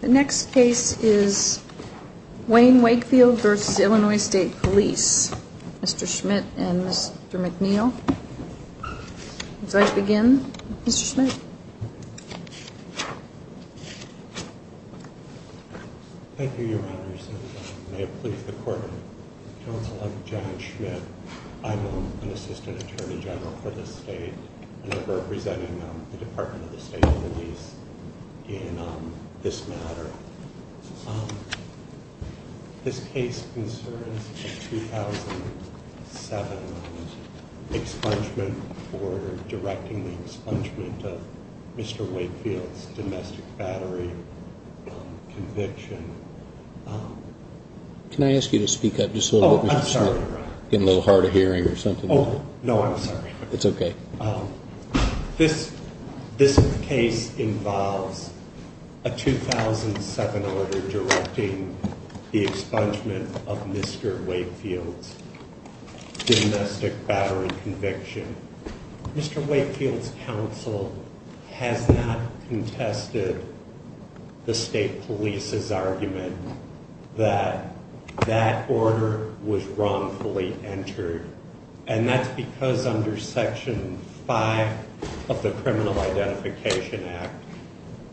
The next case is Wayne Wakefield v. Illinois State Police. Mr. Schmidt and Mr. McNeil. Would you like to begin, Mr. Schmidt? Thank you, Your Honors. And may it please the Court, I'm John Schmidt. I'm an Assistant Attorney General for the State and I'm representing the Department of the State Police in this matter. This case concerns a 2007 expungement for directing the expungement of Mr. Wakefield's domestic battery conviction. Can I ask you to speak up just a little bit, Mr. Schmidt? Oh, I'm sorry, Your Honor. Getting a little hard of hearing or something? No, I'm sorry. It's okay. This case involves a 2007 order directing the expungement of Mr. Wakefield's domestic battery conviction. Mr. Wakefield's counsel has not contested the State Police's argument that that order was wrongfully entered and that's because under Section 5 of the Criminal Identification Act,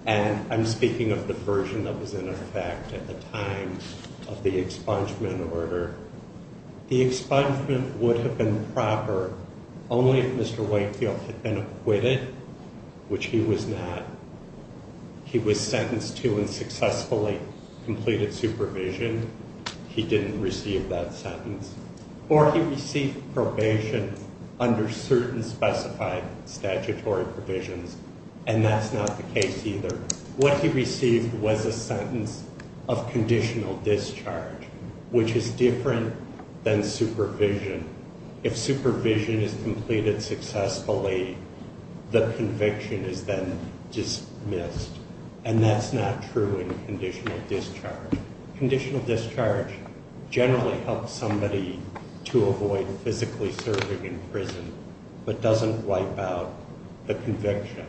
and I'm speaking of the version that was in effect at the time of the expungement order, the expungement would have been proper only if Mr. Wakefield had been acquitted, which he was not. He was sentenced to and successfully completed supervision. He didn't receive that sentence. Or he received probation under certain specified statutory provisions, and that's not the case either. What he received was a sentence of conditional discharge, which is different than supervision. If supervision is completed successfully, the conviction is then dismissed, and that's not true in conditional discharge. Conditional discharge generally helps somebody to avoid physically serving in prison but doesn't wipe out the conviction.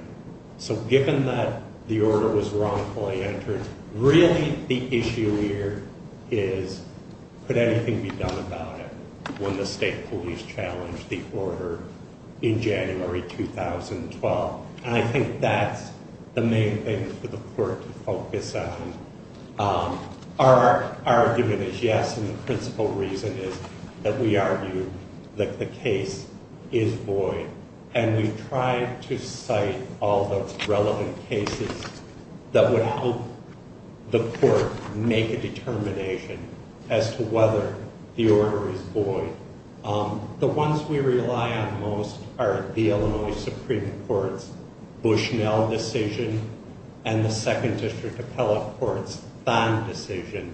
So given that the order was wrongfully entered, really the issue here is, could anything be done about it when the State Police challenged the order in January 2012? And I think that's the main thing for the court to focus on. Our argument is yes, and the principal reason is that we argue that the case is void, and we've tried to cite all the relevant cases that would help the court make a determination as to whether the order is void. The ones we rely on most are the Illinois Supreme Court's Bushnell decision and the Second District Appellate Court's Thine decision,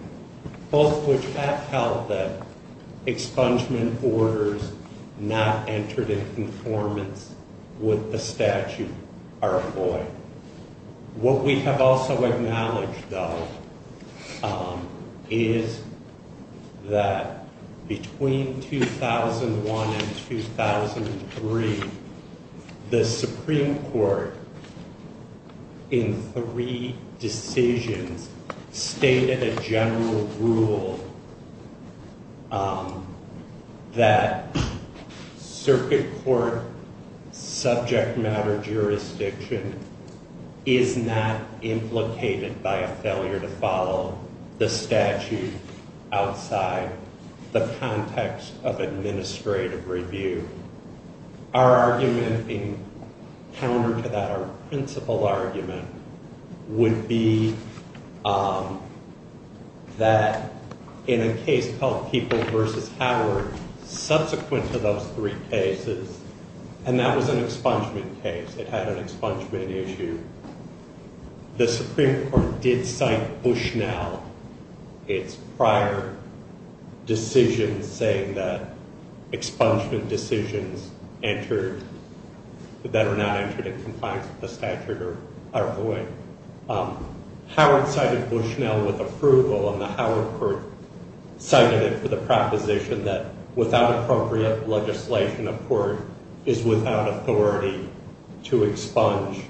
both of which have held that expungement orders not entered in conformance with the statute are void. What we have also acknowledged, though, is that between 2001 and 2003, the Supreme Court in three decisions stated a general rule that circuit court subject matter jurisdiction is not implicated by a failure to follow the statute outside the context of administrative review. Our argument in counter to that, our principal argument, would be that in a case called People v. Howard, subsequent to those three cases, and that was an expungement case. It had an expungement issue. The Supreme Court did cite Bushnell, its prior decision saying that expungement decisions that are not entered in compliance with the statute are void. Howard cited Bushnell with approval, and the Howard Court cited it for the proposition that without appropriate legislation, a court is without authority to expunge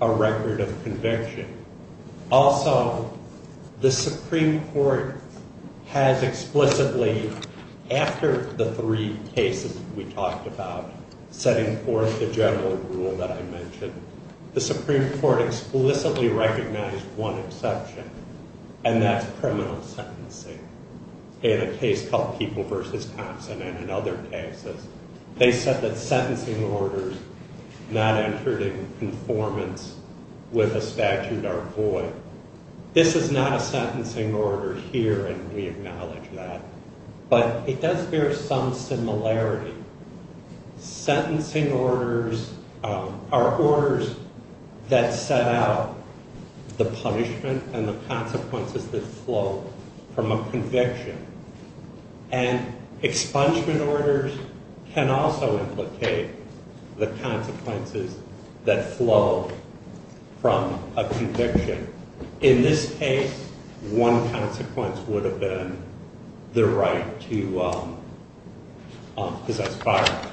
a record of conviction. Also, the Supreme Court has explicitly, after the three cases we talked about, setting forth the general rule that I mentioned, the Supreme Court explicitly recognized one exception, and that's criminal sentencing. In a case called People v. Thompson and in other cases, they said that sentencing orders not entered in conformance with the statute are void. This is not a sentencing order here, and we acknowledge that, but it does bear some similarity. Sentencing orders are orders that set out the punishment and the consequences that flow from a conviction, and expungement orders can also implicate the consequences that flow from a conviction. In this case, one consequence would have been the right to possess firearms,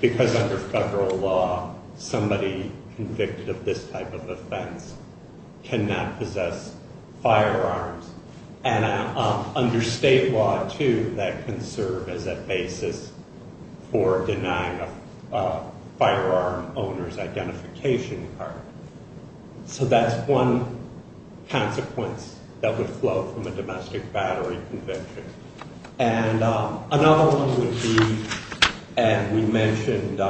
because under federal law, somebody convicted of this type of offense cannot possess firearms, and under state law, too, that can serve as a basis for denying a firearm owner's identification card. So that's one consequence that would flow from a domestic battery conviction. And another one would be, and we mentioned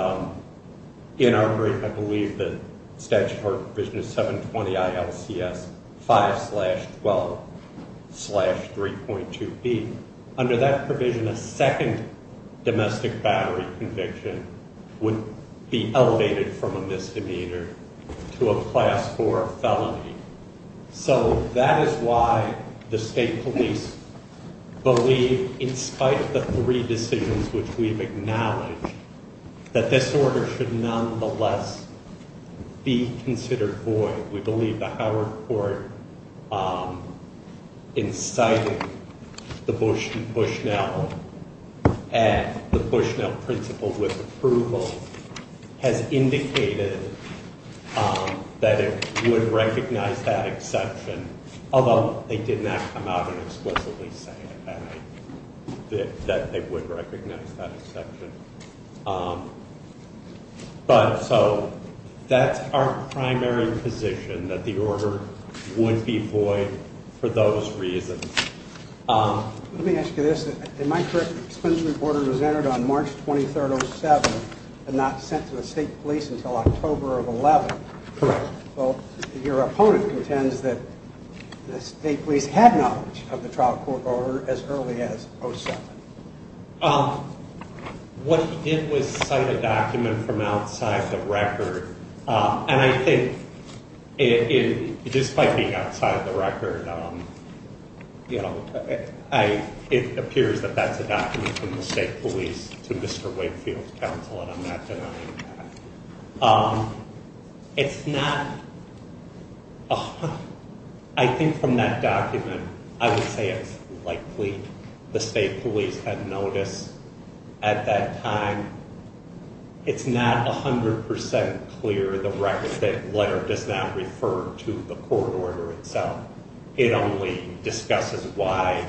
in our brief, I believe, that Statute of Art Provision 720-ILCS 5-12-3.2b. Under that provision, a second domestic battery conviction would be elevated from a misdemeanor to a class 4 felony. So that is why the state police believe, in spite of the three decisions which we've acknowledged, that this order should nonetheless be considered void. We believe the Howard Court incited the Bush v. Bushnell at the Bushnell principle with approval has indicated that it would recognize that exception, although they did not come out and explicitly say that they would recognize that exception. But so that's our primary position, that the order would be void for those reasons. Let me ask you this. In my court, the expungement order was entered on March 23, 07, and not sent to the state police until October of 11. Correct. Well, your opponent contends that the state police had knowledge of the trial court order as early as 07. What he did was cite a document from outside the record, and I think, despite being outside the record, it appears that that's a document from the state police to Mr. Wakefield's counsel, and I'm not denying that. It's not... I think from that document, I would say it's likely the state police had noticed at that time. It's not 100% clear. The record letter does not refer to the court order itself. It only discusses why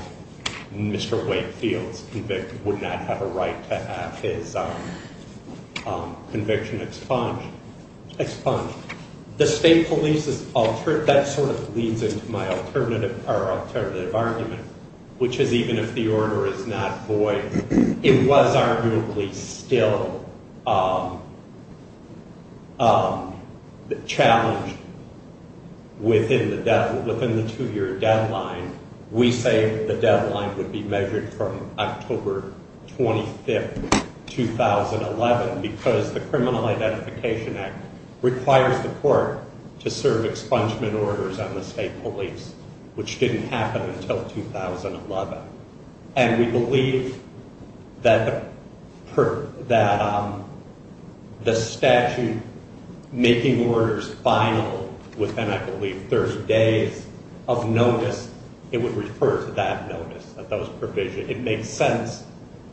Mr. Wakefield's convict would not have a right to have his conviction expunged. The state police's... That sort of leads into my alternative argument, which is even if the order is not void, it was arguably still challenged within the two-year deadline. We say the deadline would be measured from October 25, 2011, because the Criminal Identification Act requires the court to serve expungement orders on the state police, which didn't happen until 2011. And we believe that the statute making orders final within, I believe, 30 days of notice, it would refer to that notice, that those provisions. It makes sense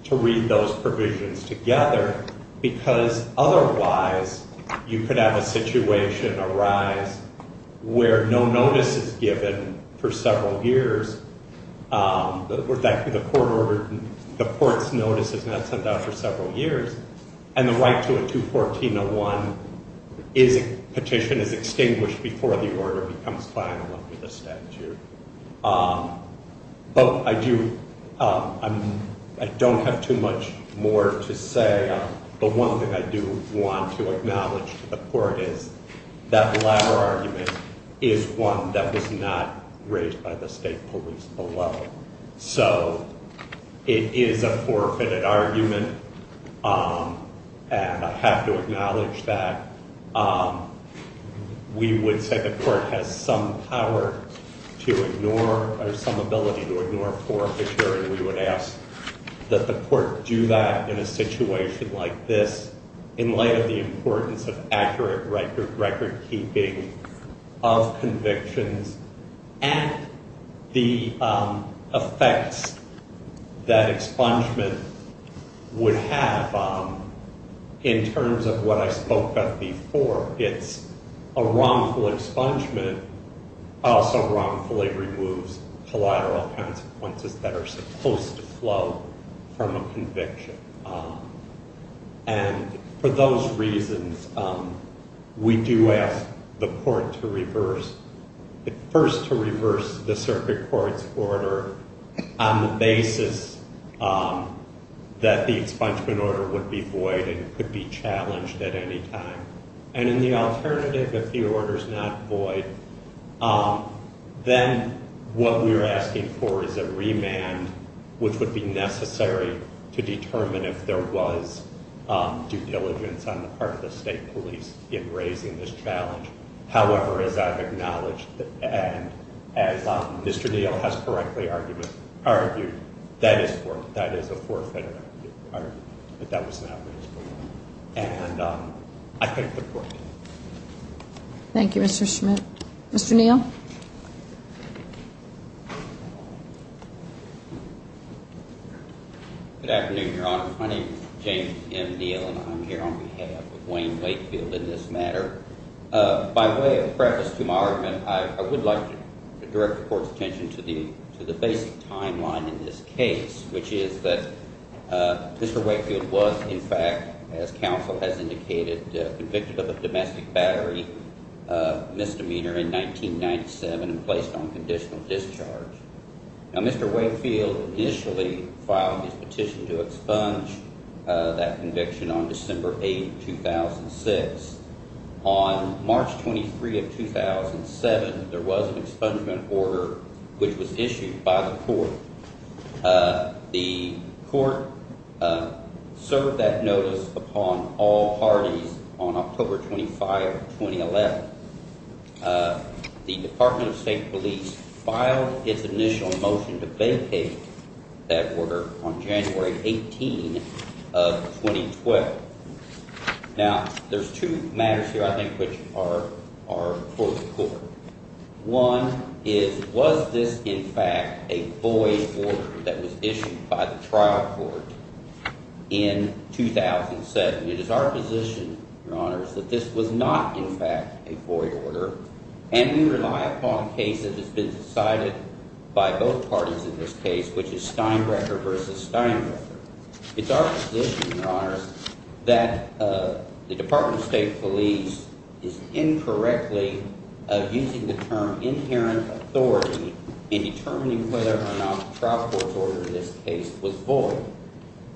to read those provisions together because otherwise you could have a situation arise where no notice is given for several years. The court's notice is not sent out for several years, and the right to a 214.01 petition is extinguished before the order becomes final under the statute. But I don't have too much more to say. That latter argument is one that was not raised by the state police below. So it is a forfeited argument, and I have to acknowledge that. We would say the court has some power to ignore, or some ability to ignore forfeiture, and we would ask that the court do that in a situation like this in light of the importance of accurate record-keeping of convictions and the effects that expungement would have in terms of what I spoke of before. It's a wrongful expungement also wrongfully removes collateral consequences that are supposed to flow from a conviction. And for those reasons, we do ask the court to reverse, first to reverse the circuit court's order on the basis that the expungement order would be void and could be challenged at any time. And in the alternative, if the order's not void, then what we're asking for is a remand, which would be necessary to determine if there was due diligence on the part of the state police in raising this challenge. However, as I've acknowledged, and as Mr. Neal has correctly argued, that is a forfeited argument, but that was not raised below. And I thank the court. Thank you, Mr. Schmidt. Mr. Neal? Good afternoon, Your Honor. My name is James M. Neal, and I'm here on behalf of Wayne Wakefield in this matter. By way of preface to my argument, I would like to direct the court's attention to the basic timeline in this case, which is that Mr. Wakefield was, in fact, as counsel has indicated, convicted of a domestic battery misdemeanor in 1997 and placed on conditional discharge. Now, Mr. Wakefield initially filed his petition to expunge that conviction on December 8, 2006. On March 23 of 2007, there was an expungement order which was issued by the court. The court served that notice upon all parties on October 25, 2011. The Department of State Police filed its initial motion to vacate that order on January 18 of 2012. Now, there's two matters here, I think, which are for the court. One is, was this, in fact, a void order that was issued by the trial court in 2007? It is our position, Your Honors, that this was not, in fact, a void order, and we rely upon a case that has been decided by both parties in this case, which is Steinbrecher v. Steinbrecher. It's our position, Your Honors, that the Department of State Police is incorrectly using the term inherent authority in determining whether or not the trial court's order in this case was void.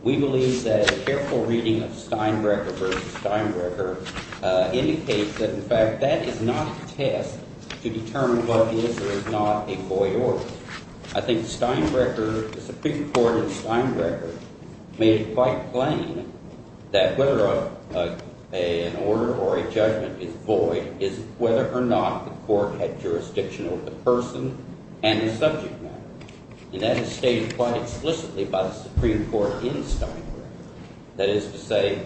We believe that a careful reading of Steinbrecher v. Steinbrecher indicates that, in fact, that is not a test to determine what is or is not a void order. I think Steinbrecher, the Supreme Court in Steinbrecher, made it quite plain that whether an order or a judgment is void is whether or not the court had jurisdiction over the person and the subject matter. And that is stated quite explicitly by the Supreme Court in Steinbrecher. That is to say,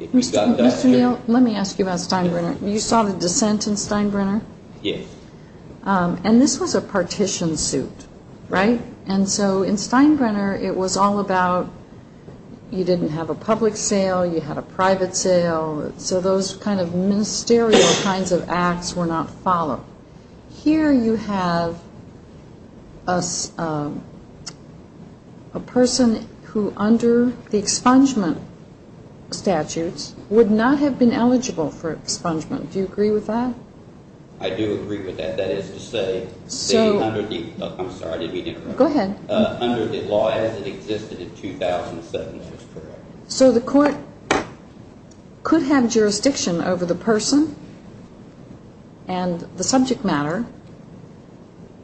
if you've got that... Mr. Neal, let me ask you about Steinbrecher. You saw the dissent in Steinbrecher? Yes. And this was a partition suit, right? And so in Steinbrecher, it was all about you didn't have a public sale, you had a private sale. So those kind of ministerial kinds of acts were not followed. Here you have a person who, under the expungement statutes, would not have been eligible for expungement. Do you agree with that? I do agree with that. That is to say, under the law as it existed in 2007, that is correct. So the court could have jurisdiction over the person and the subject matter,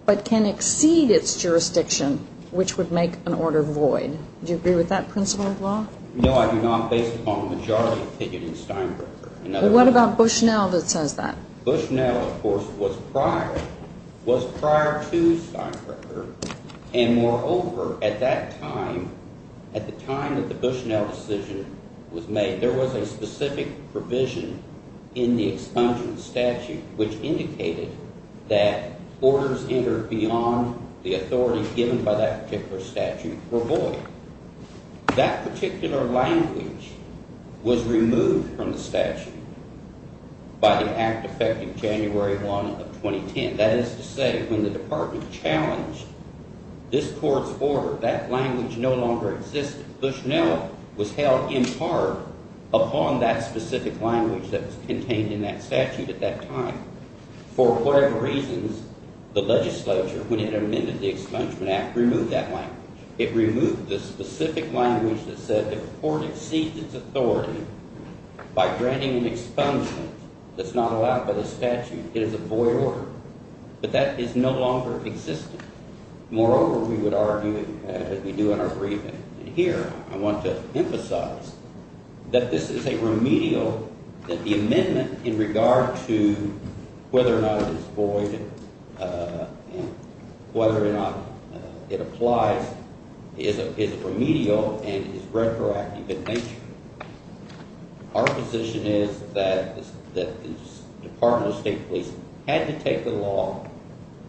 but can exceed its jurisdiction, which would make an order void. Do you agree with that principle of law? No, I do not, based upon majority opinion in Steinbrecher. Well, what about Bushnell that says that? Bushnell, of course, was prior to Steinbrecher, and moreover, at that time, at the time that the Bushnell decision was made, there was a specific provision in the expungement statute which indicated that orders entered beyond the authority given by that particular statute were void. That particular language was removed from the statute by the act effective January 1 of 2010. That is to say, when the department challenged this court's order, that language no longer existed. Bushnell was held in part upon that specific language that was contained in that statute at that time. For whatever reasons, the legislature, when it amended the expungement act, removed that language. It removed the specific language that said the court exceeds its authority by granting an expungement that's not allowed by the statute. It is a void order. But that is no longer existing. Moreover, we would argue, as we do in our briefing here, I want to emphasize that this is a remedial that the amendment in regard to whether or not it is void and whether or not it applies is remedial and is retroactive in nature. Our position is that the Department of State Police had to take the law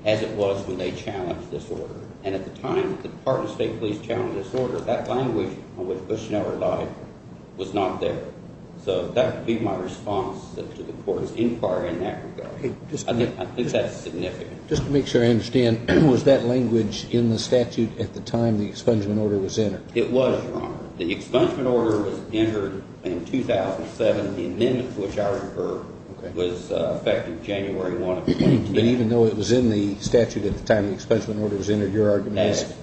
as it was when they challenged this order. And at the time, the Department of State Police challenged this order. That language on which Bushnell relied was not there. So that would be my response to the court's inquiry in that regard. I think that's significant. Just to make sure I understand, was that language in the statute at the time the expungement order was entered? It was, Your Honor. The expungement order was entered in 2007. The amendment to which I refer was effective January 1 of 2010. But even though it was in the statute at the time the expungement order was entered, your argument is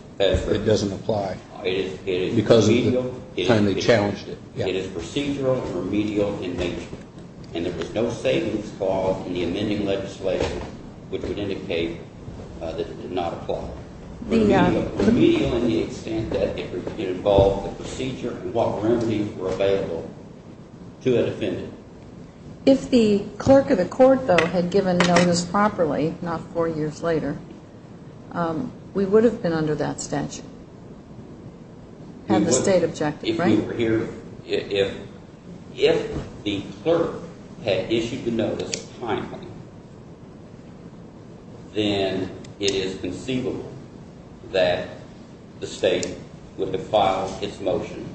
it doesn't apply because of the time they challenged it. It is procedural and remedial in nature. And there was no savings clause in the amending legislation which would indicate that it did not apply. Remedial in the extent that it involved the procedure and what remedies were available to an offendant. If the clerk of the court, though, had given notice properly, not four years later, we would have been under that statute and the state objective, right? If the clerk had issued the notice timely, then it is conceivable that the state would have filed its motion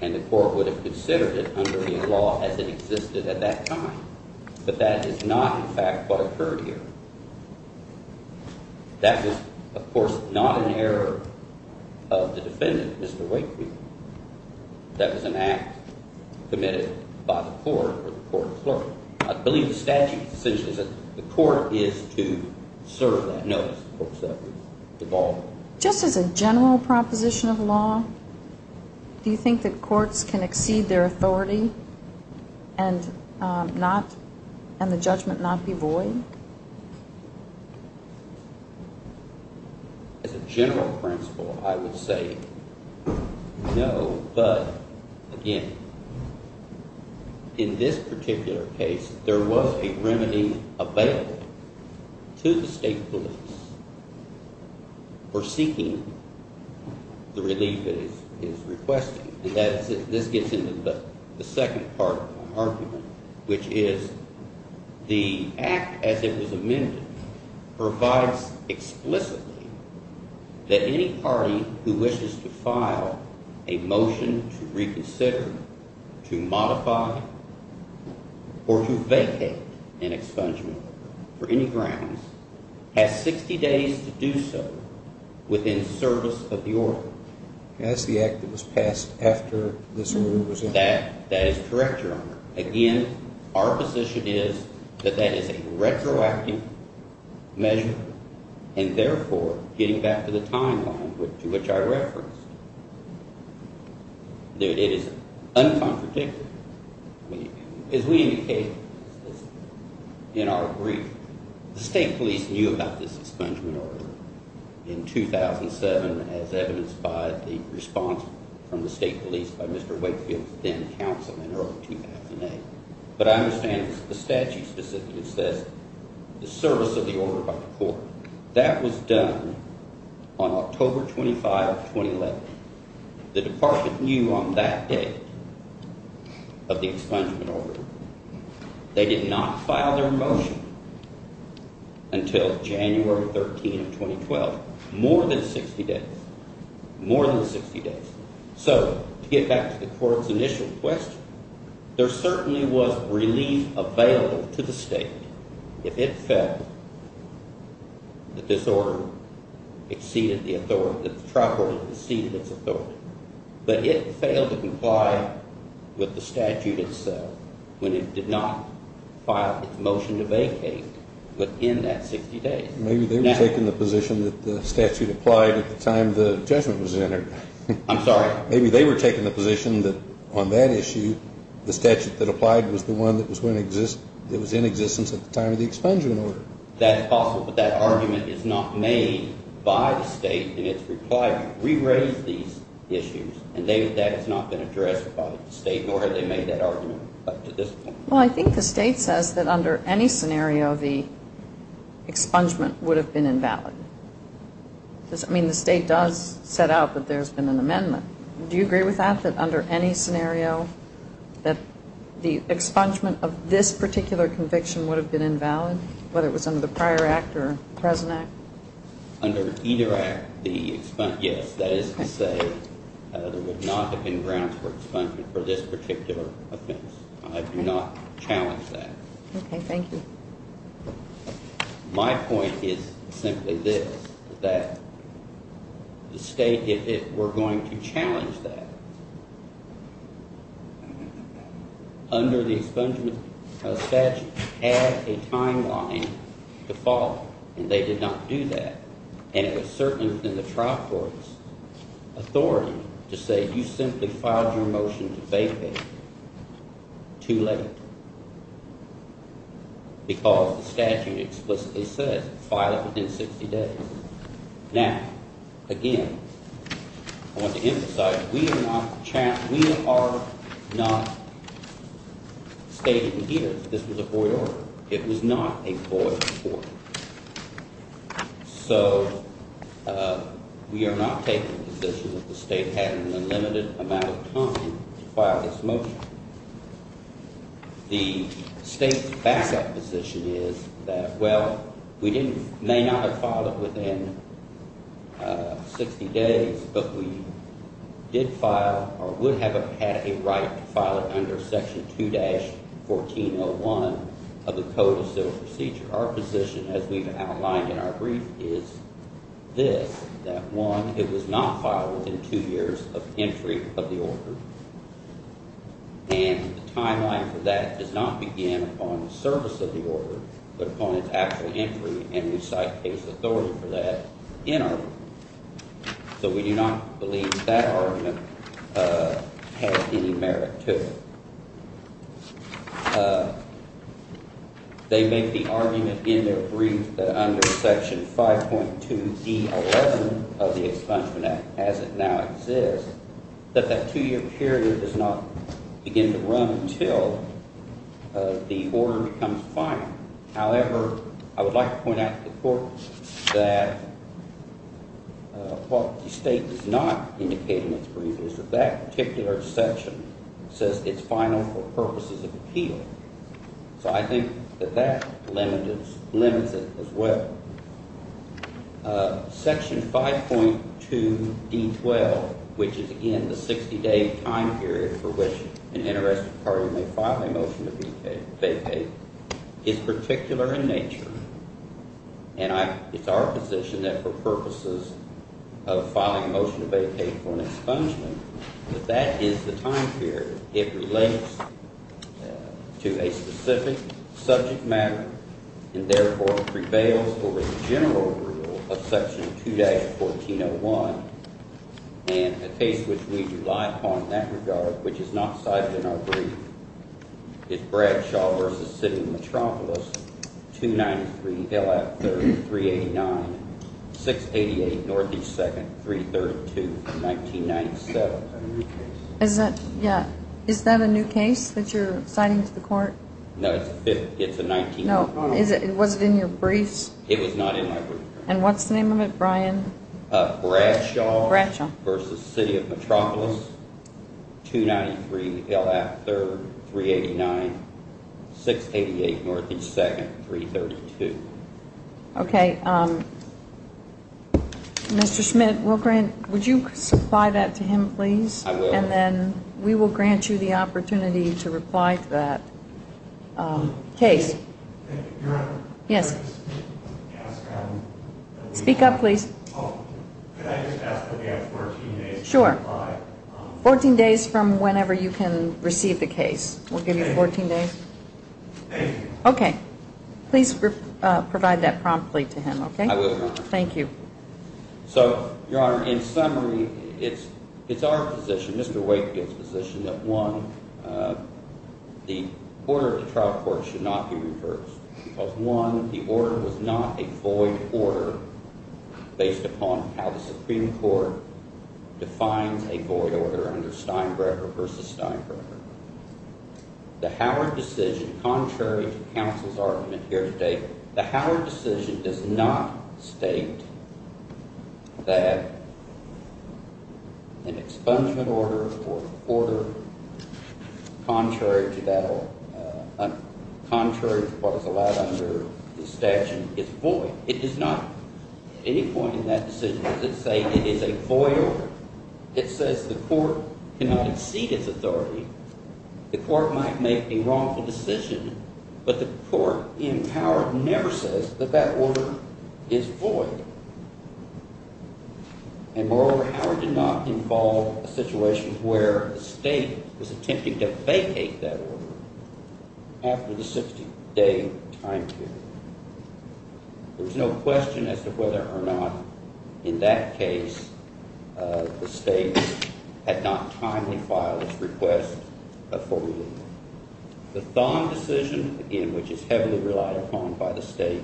and the court would have considered it under the law as it existed at that time. But that is not, in fact, what occurred here. That was, of course, not an error of the defendant, Mr. Wakefield. That was an act committed by the court or the court clerk. I believe the statute essentially says the court is to serve that notice. The court is to devolve it. Just as a general proposition of law, do you think that courts can exceed their authority and the judgment not be void? As a general principle, I would say no. But, again, in this particular case, there was a remedy available to the state police for seeking the relief it is requesting. This gets into the second part of my argument, which is the act as it was amended provides explicitly that any party who wishes to file a motion to reconsider, to modify, or to vacate an expungement order for any grounds has 60 days to do so within service of the order. That's the act that was passed after this order was amended. That is correct, Your Honor. Again, our position is that that is a retroactive measure and, therefore, getting back to the timeline to which I referenced, it is uncontradictory. As we indicated in our brief, the state police knew about this expungement order in 2007 as evidenced by the response from the state police by Mr. Wakefield's then-counsel in early 2008. But I understand the statute specifically says the service of the order by the court. That was done on October 25, 2011. The department knew on that day of the expungement order. They did not file their motion until January 13, 2012, more than 60 days, more than 60 days. So to get back to the court's initial question, there certainly was relief available to the state if it felt that this order exceeded the authority, that the trial court had exceeded its authority, but it failed to comply with the statute itself when it did not file its motion to vacate within that 60 days. Maybe they were taking the position that the statute applied at the time the judgment was entered. I'm sorry? Maybe they were taking the position that on that issue, the statute that applied was the one that was in existence at the time of the expungement order. That's possible, but that argument is not made by the state in its reply to re-raise these issues, and that has not been addressed by the state, nor have they made that argument up to this point. Well, I think the state says that under any scenario, the expungement would have been invalid. I mean, the state does set out that there's been an amendment. Do you agree with that, that under any scenario, that the expungement of this particular conviction would have been invalid, whether it was under the prior act or present act? Under either act, yes. That is to say there would not have been grounds for expungement for this particular offense. I do not challenge that. Okay, thank you. My point is simply this, that the state, if it were going to challenge that, under the expungement statute had a timeline to follow, and they did not do that, and it was certainly within the trial court's authority to say, you simply filed your motion to bay pay too late, because the statute explicitly says file it within 60 days. Now, again, I want to emphasize, we are not stating here that this was a void order. It was not a void order. So we are not taking the position that the state had an unlimited amount of time to file this motion. The state's back up position is that, well, we may not have filed it within 60 days, but we did file or would have had a right to file it under Section 2-1401 of the Code of Civil Procedure. Our position, as we've outlined in our brief, is this, that one, it was not filed within two years of entry of the order, and the timeline for that does not begin upon the service of the order, but upon its actual entry, and we cite case authority for that in our brief. So we do not believe that argument has any merit to it. They make the argument in their brief that under Section 5.2D11 of the Expungement Act, as it now exists, that that two-year period does not begin to run until the order becomes final. However, I would like to point out to the court that what the state is not indicating in its brief is that that particular section says it's final for purposes of appeal. So I think that that limits it as well. Section 5.2D12, which is, again, the 60-day time period for which an interested party may file a motion to vacate, is particular in nature, and it's our position that for purposes of filing a motion to vacate for an expungement, that that is the time period. It relates to a specific subject matter and, therefore, prevails over the general rule of Section 2-1401, and a case which we do lie upon in that regard, which is not cited in our brief, is Bradshaw v. Sidney Metropolis, 293 LF 3389, 688 North East 2nd, 332 from 1997. Is that a new case that you're citing to the court? No, it's a 19-year-old. Was it in your briefs? It was not in my briefs. And what's the name of it, Brian? Bradshaw v. Sidney Metropolis, 293 LF 3389, 688 North East 2nd, 332. Okay. Mr. Schmidt, would you supply that to him, please? I will. And then we will grant you the opportunity to reply to that case. Your Honor. Yes. Speak up, please. Could I just ask that we have 14 days to reply? Sure. 14 days from whenever you can receive the case. We'll give you 14 days. Thank you. Okay. Please provide that promptly to him, okay? I will, Your Honor. Thank you. So, Your Honor, in summary, it's our position, Mr. Wakefield's position, that, one, the order of the trial court should not be reversed because, one, the order was not a void order based upon how the Supreme Court defines a void order under Steinberger v. Steinberger. The Howard decision, contrary to counsel's argument here today, the Howard decision does not state that an expungement order or order contrary to what is allowed under the statute is void. It does not at any point in that decision does it say it is a void order. It says the court cannot exceed its authority. The court might make a wrongful decision, but the court in Howard never says that that order is void. And, moreover, Howard did not involve a situation where the state was attempting to vacate that order after the 60-day time period. There's no question as to whether or not, in that case, the state had not timely filed its request for removal. The Thon decision, again, which is heavily relied upon by the state,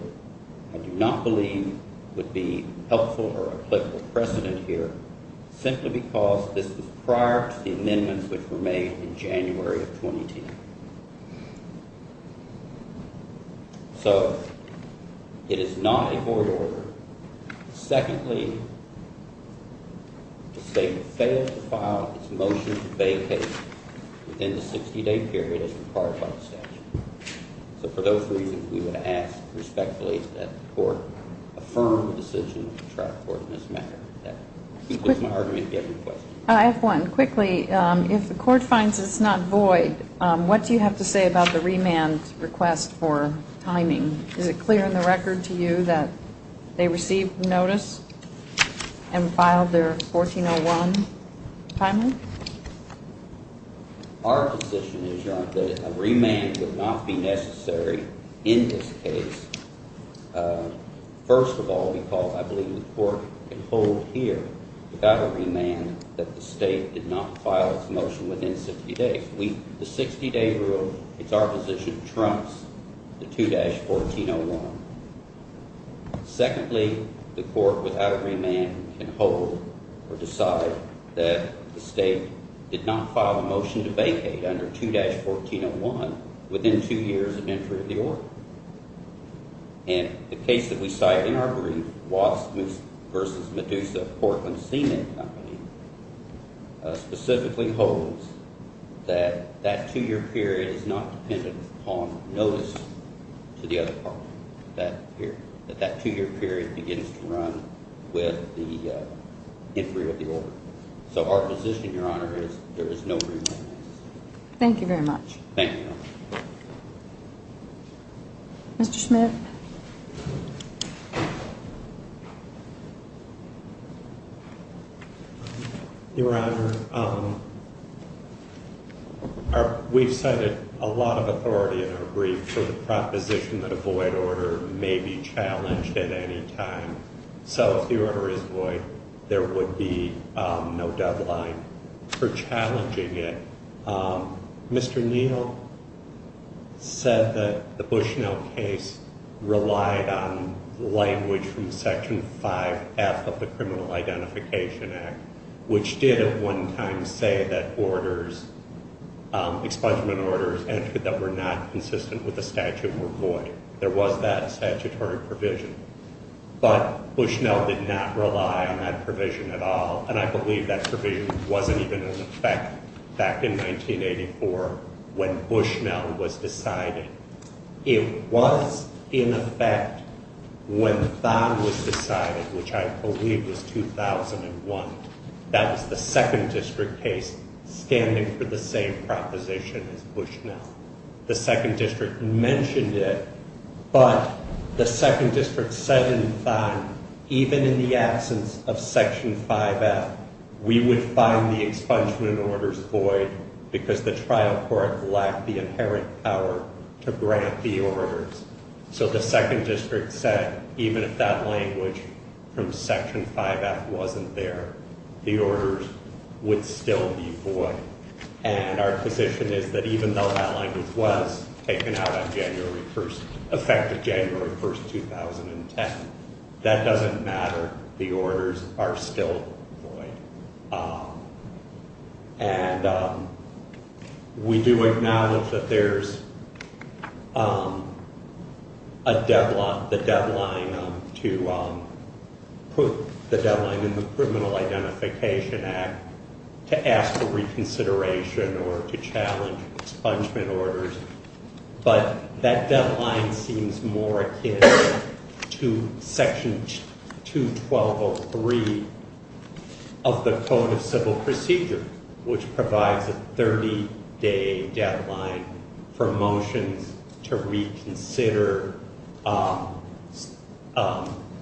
I do not believe would be helpful or applicable precedent here simply because this was prior to the amendments which were made in January of 2010. So it is not a void order. Secondly, the state failed to file its motion to vacate within the 60-day period as required by the statute. So for those reasons, we would ask respectfully that the court affirm the decision of the trial court in this matter. That concludes my argument. Do you have any questions? I have one. And quickly, if the court finds it's not void, what do you have to say about the remand request for timing? Is it clear in the record to you that they received notice and filed their 1401 timely? Our position is, Your Honor, that a remand would not be necessary in this case, first of all because I believe the court can hold here without a remand that the state did not file its motion within 60 days. The 60-day rule, it's our position, trumps the 2-1401. Secondly, the court without a remand can hold or decide that the state did not file a motion to vacate under 2-1401 within two years of entry of the order. And the case that we cite in our brief, Watts v. Medusa, Portland Seamen Company, specifically holds that that two-year period is not dependent upon notice to the other party. That two-year period begins to run with the entry of the order. So our position, Your Honor, is there is no remand. Thank you very much. Thank you, Your Honor. Mr. Schmidt. Your Honor, we've cited a lot of authority in our brief for the proposition that a void order may be challenged at any time. So if the order is void, there would be no deadline for challenging it. Mr. Neal said that the Bushnell case relied on language from Section 5F of the Criminal Identification Act, which did at one time say that orders, expungement orders that were not consistent with the statute were void. There was that statutory provision. But Bushnell did not rely on that provision at all, and I believe that provision wasn't even in effect back in 1984 when Bushnell was decided. It was in effect when Thon was decided, which I believe was 2001. That was the Second District case standing for the same proposition as Bushnell. The Second District mentioned it, but the Second District said in Thon, even in the absence of Section 5F, we would find the expungement orders void because the trial court lacked the inherent power to grant the orders. So the Second District said even if that language from Section 5F wasn't there, the orders would still be void. And our position is that even though that language was taken out on January 1st, effective January 1st, 2010, that doesn't matter. The orders are still void. And we do acknowledge that there's a deadline, the deadline to put the deadline in the Criminal Identification Act to ask for reconsideration or to challenge expungement orders. But that deadline seems more akin to Section 212.03 of the Code of Civil Procedure, which provides a 30-day deadline for motions to reconsider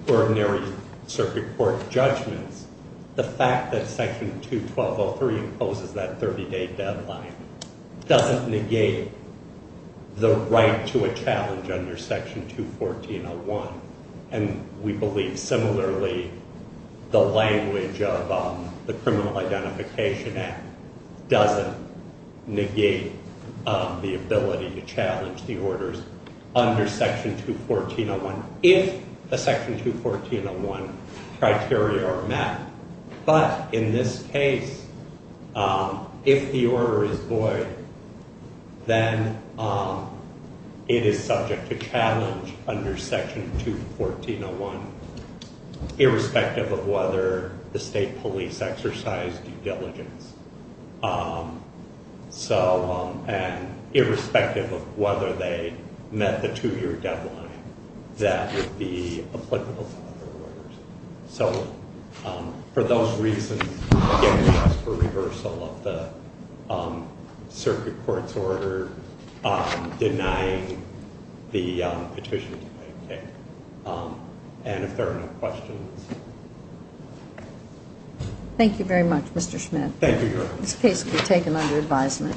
ordinary circuit court judgments. The fact that Section 212.03 imposes that 30-day deadline doesn't negate the right to a challenge under Section 214.01. And we believe similarly the language of the Criminal Identification Act doesn't negate the ability to challenge the orders under Section 214.01 if the Section 214.01 criteria are met. But in this case, if the order is void, then it is subject to challenge under Section 214.01 irrespective of whether the state police exercise due diligence. So, and irrespective of whether they met the two-year deadline, that would be applicable to other orders. So, for those reasons, again, we ask for reversal of the circuit court's order denying the petition to be taken. And if there are no questions. Thank you very much, Mr. Schmidt. Thank you. This case will be taken under advisement.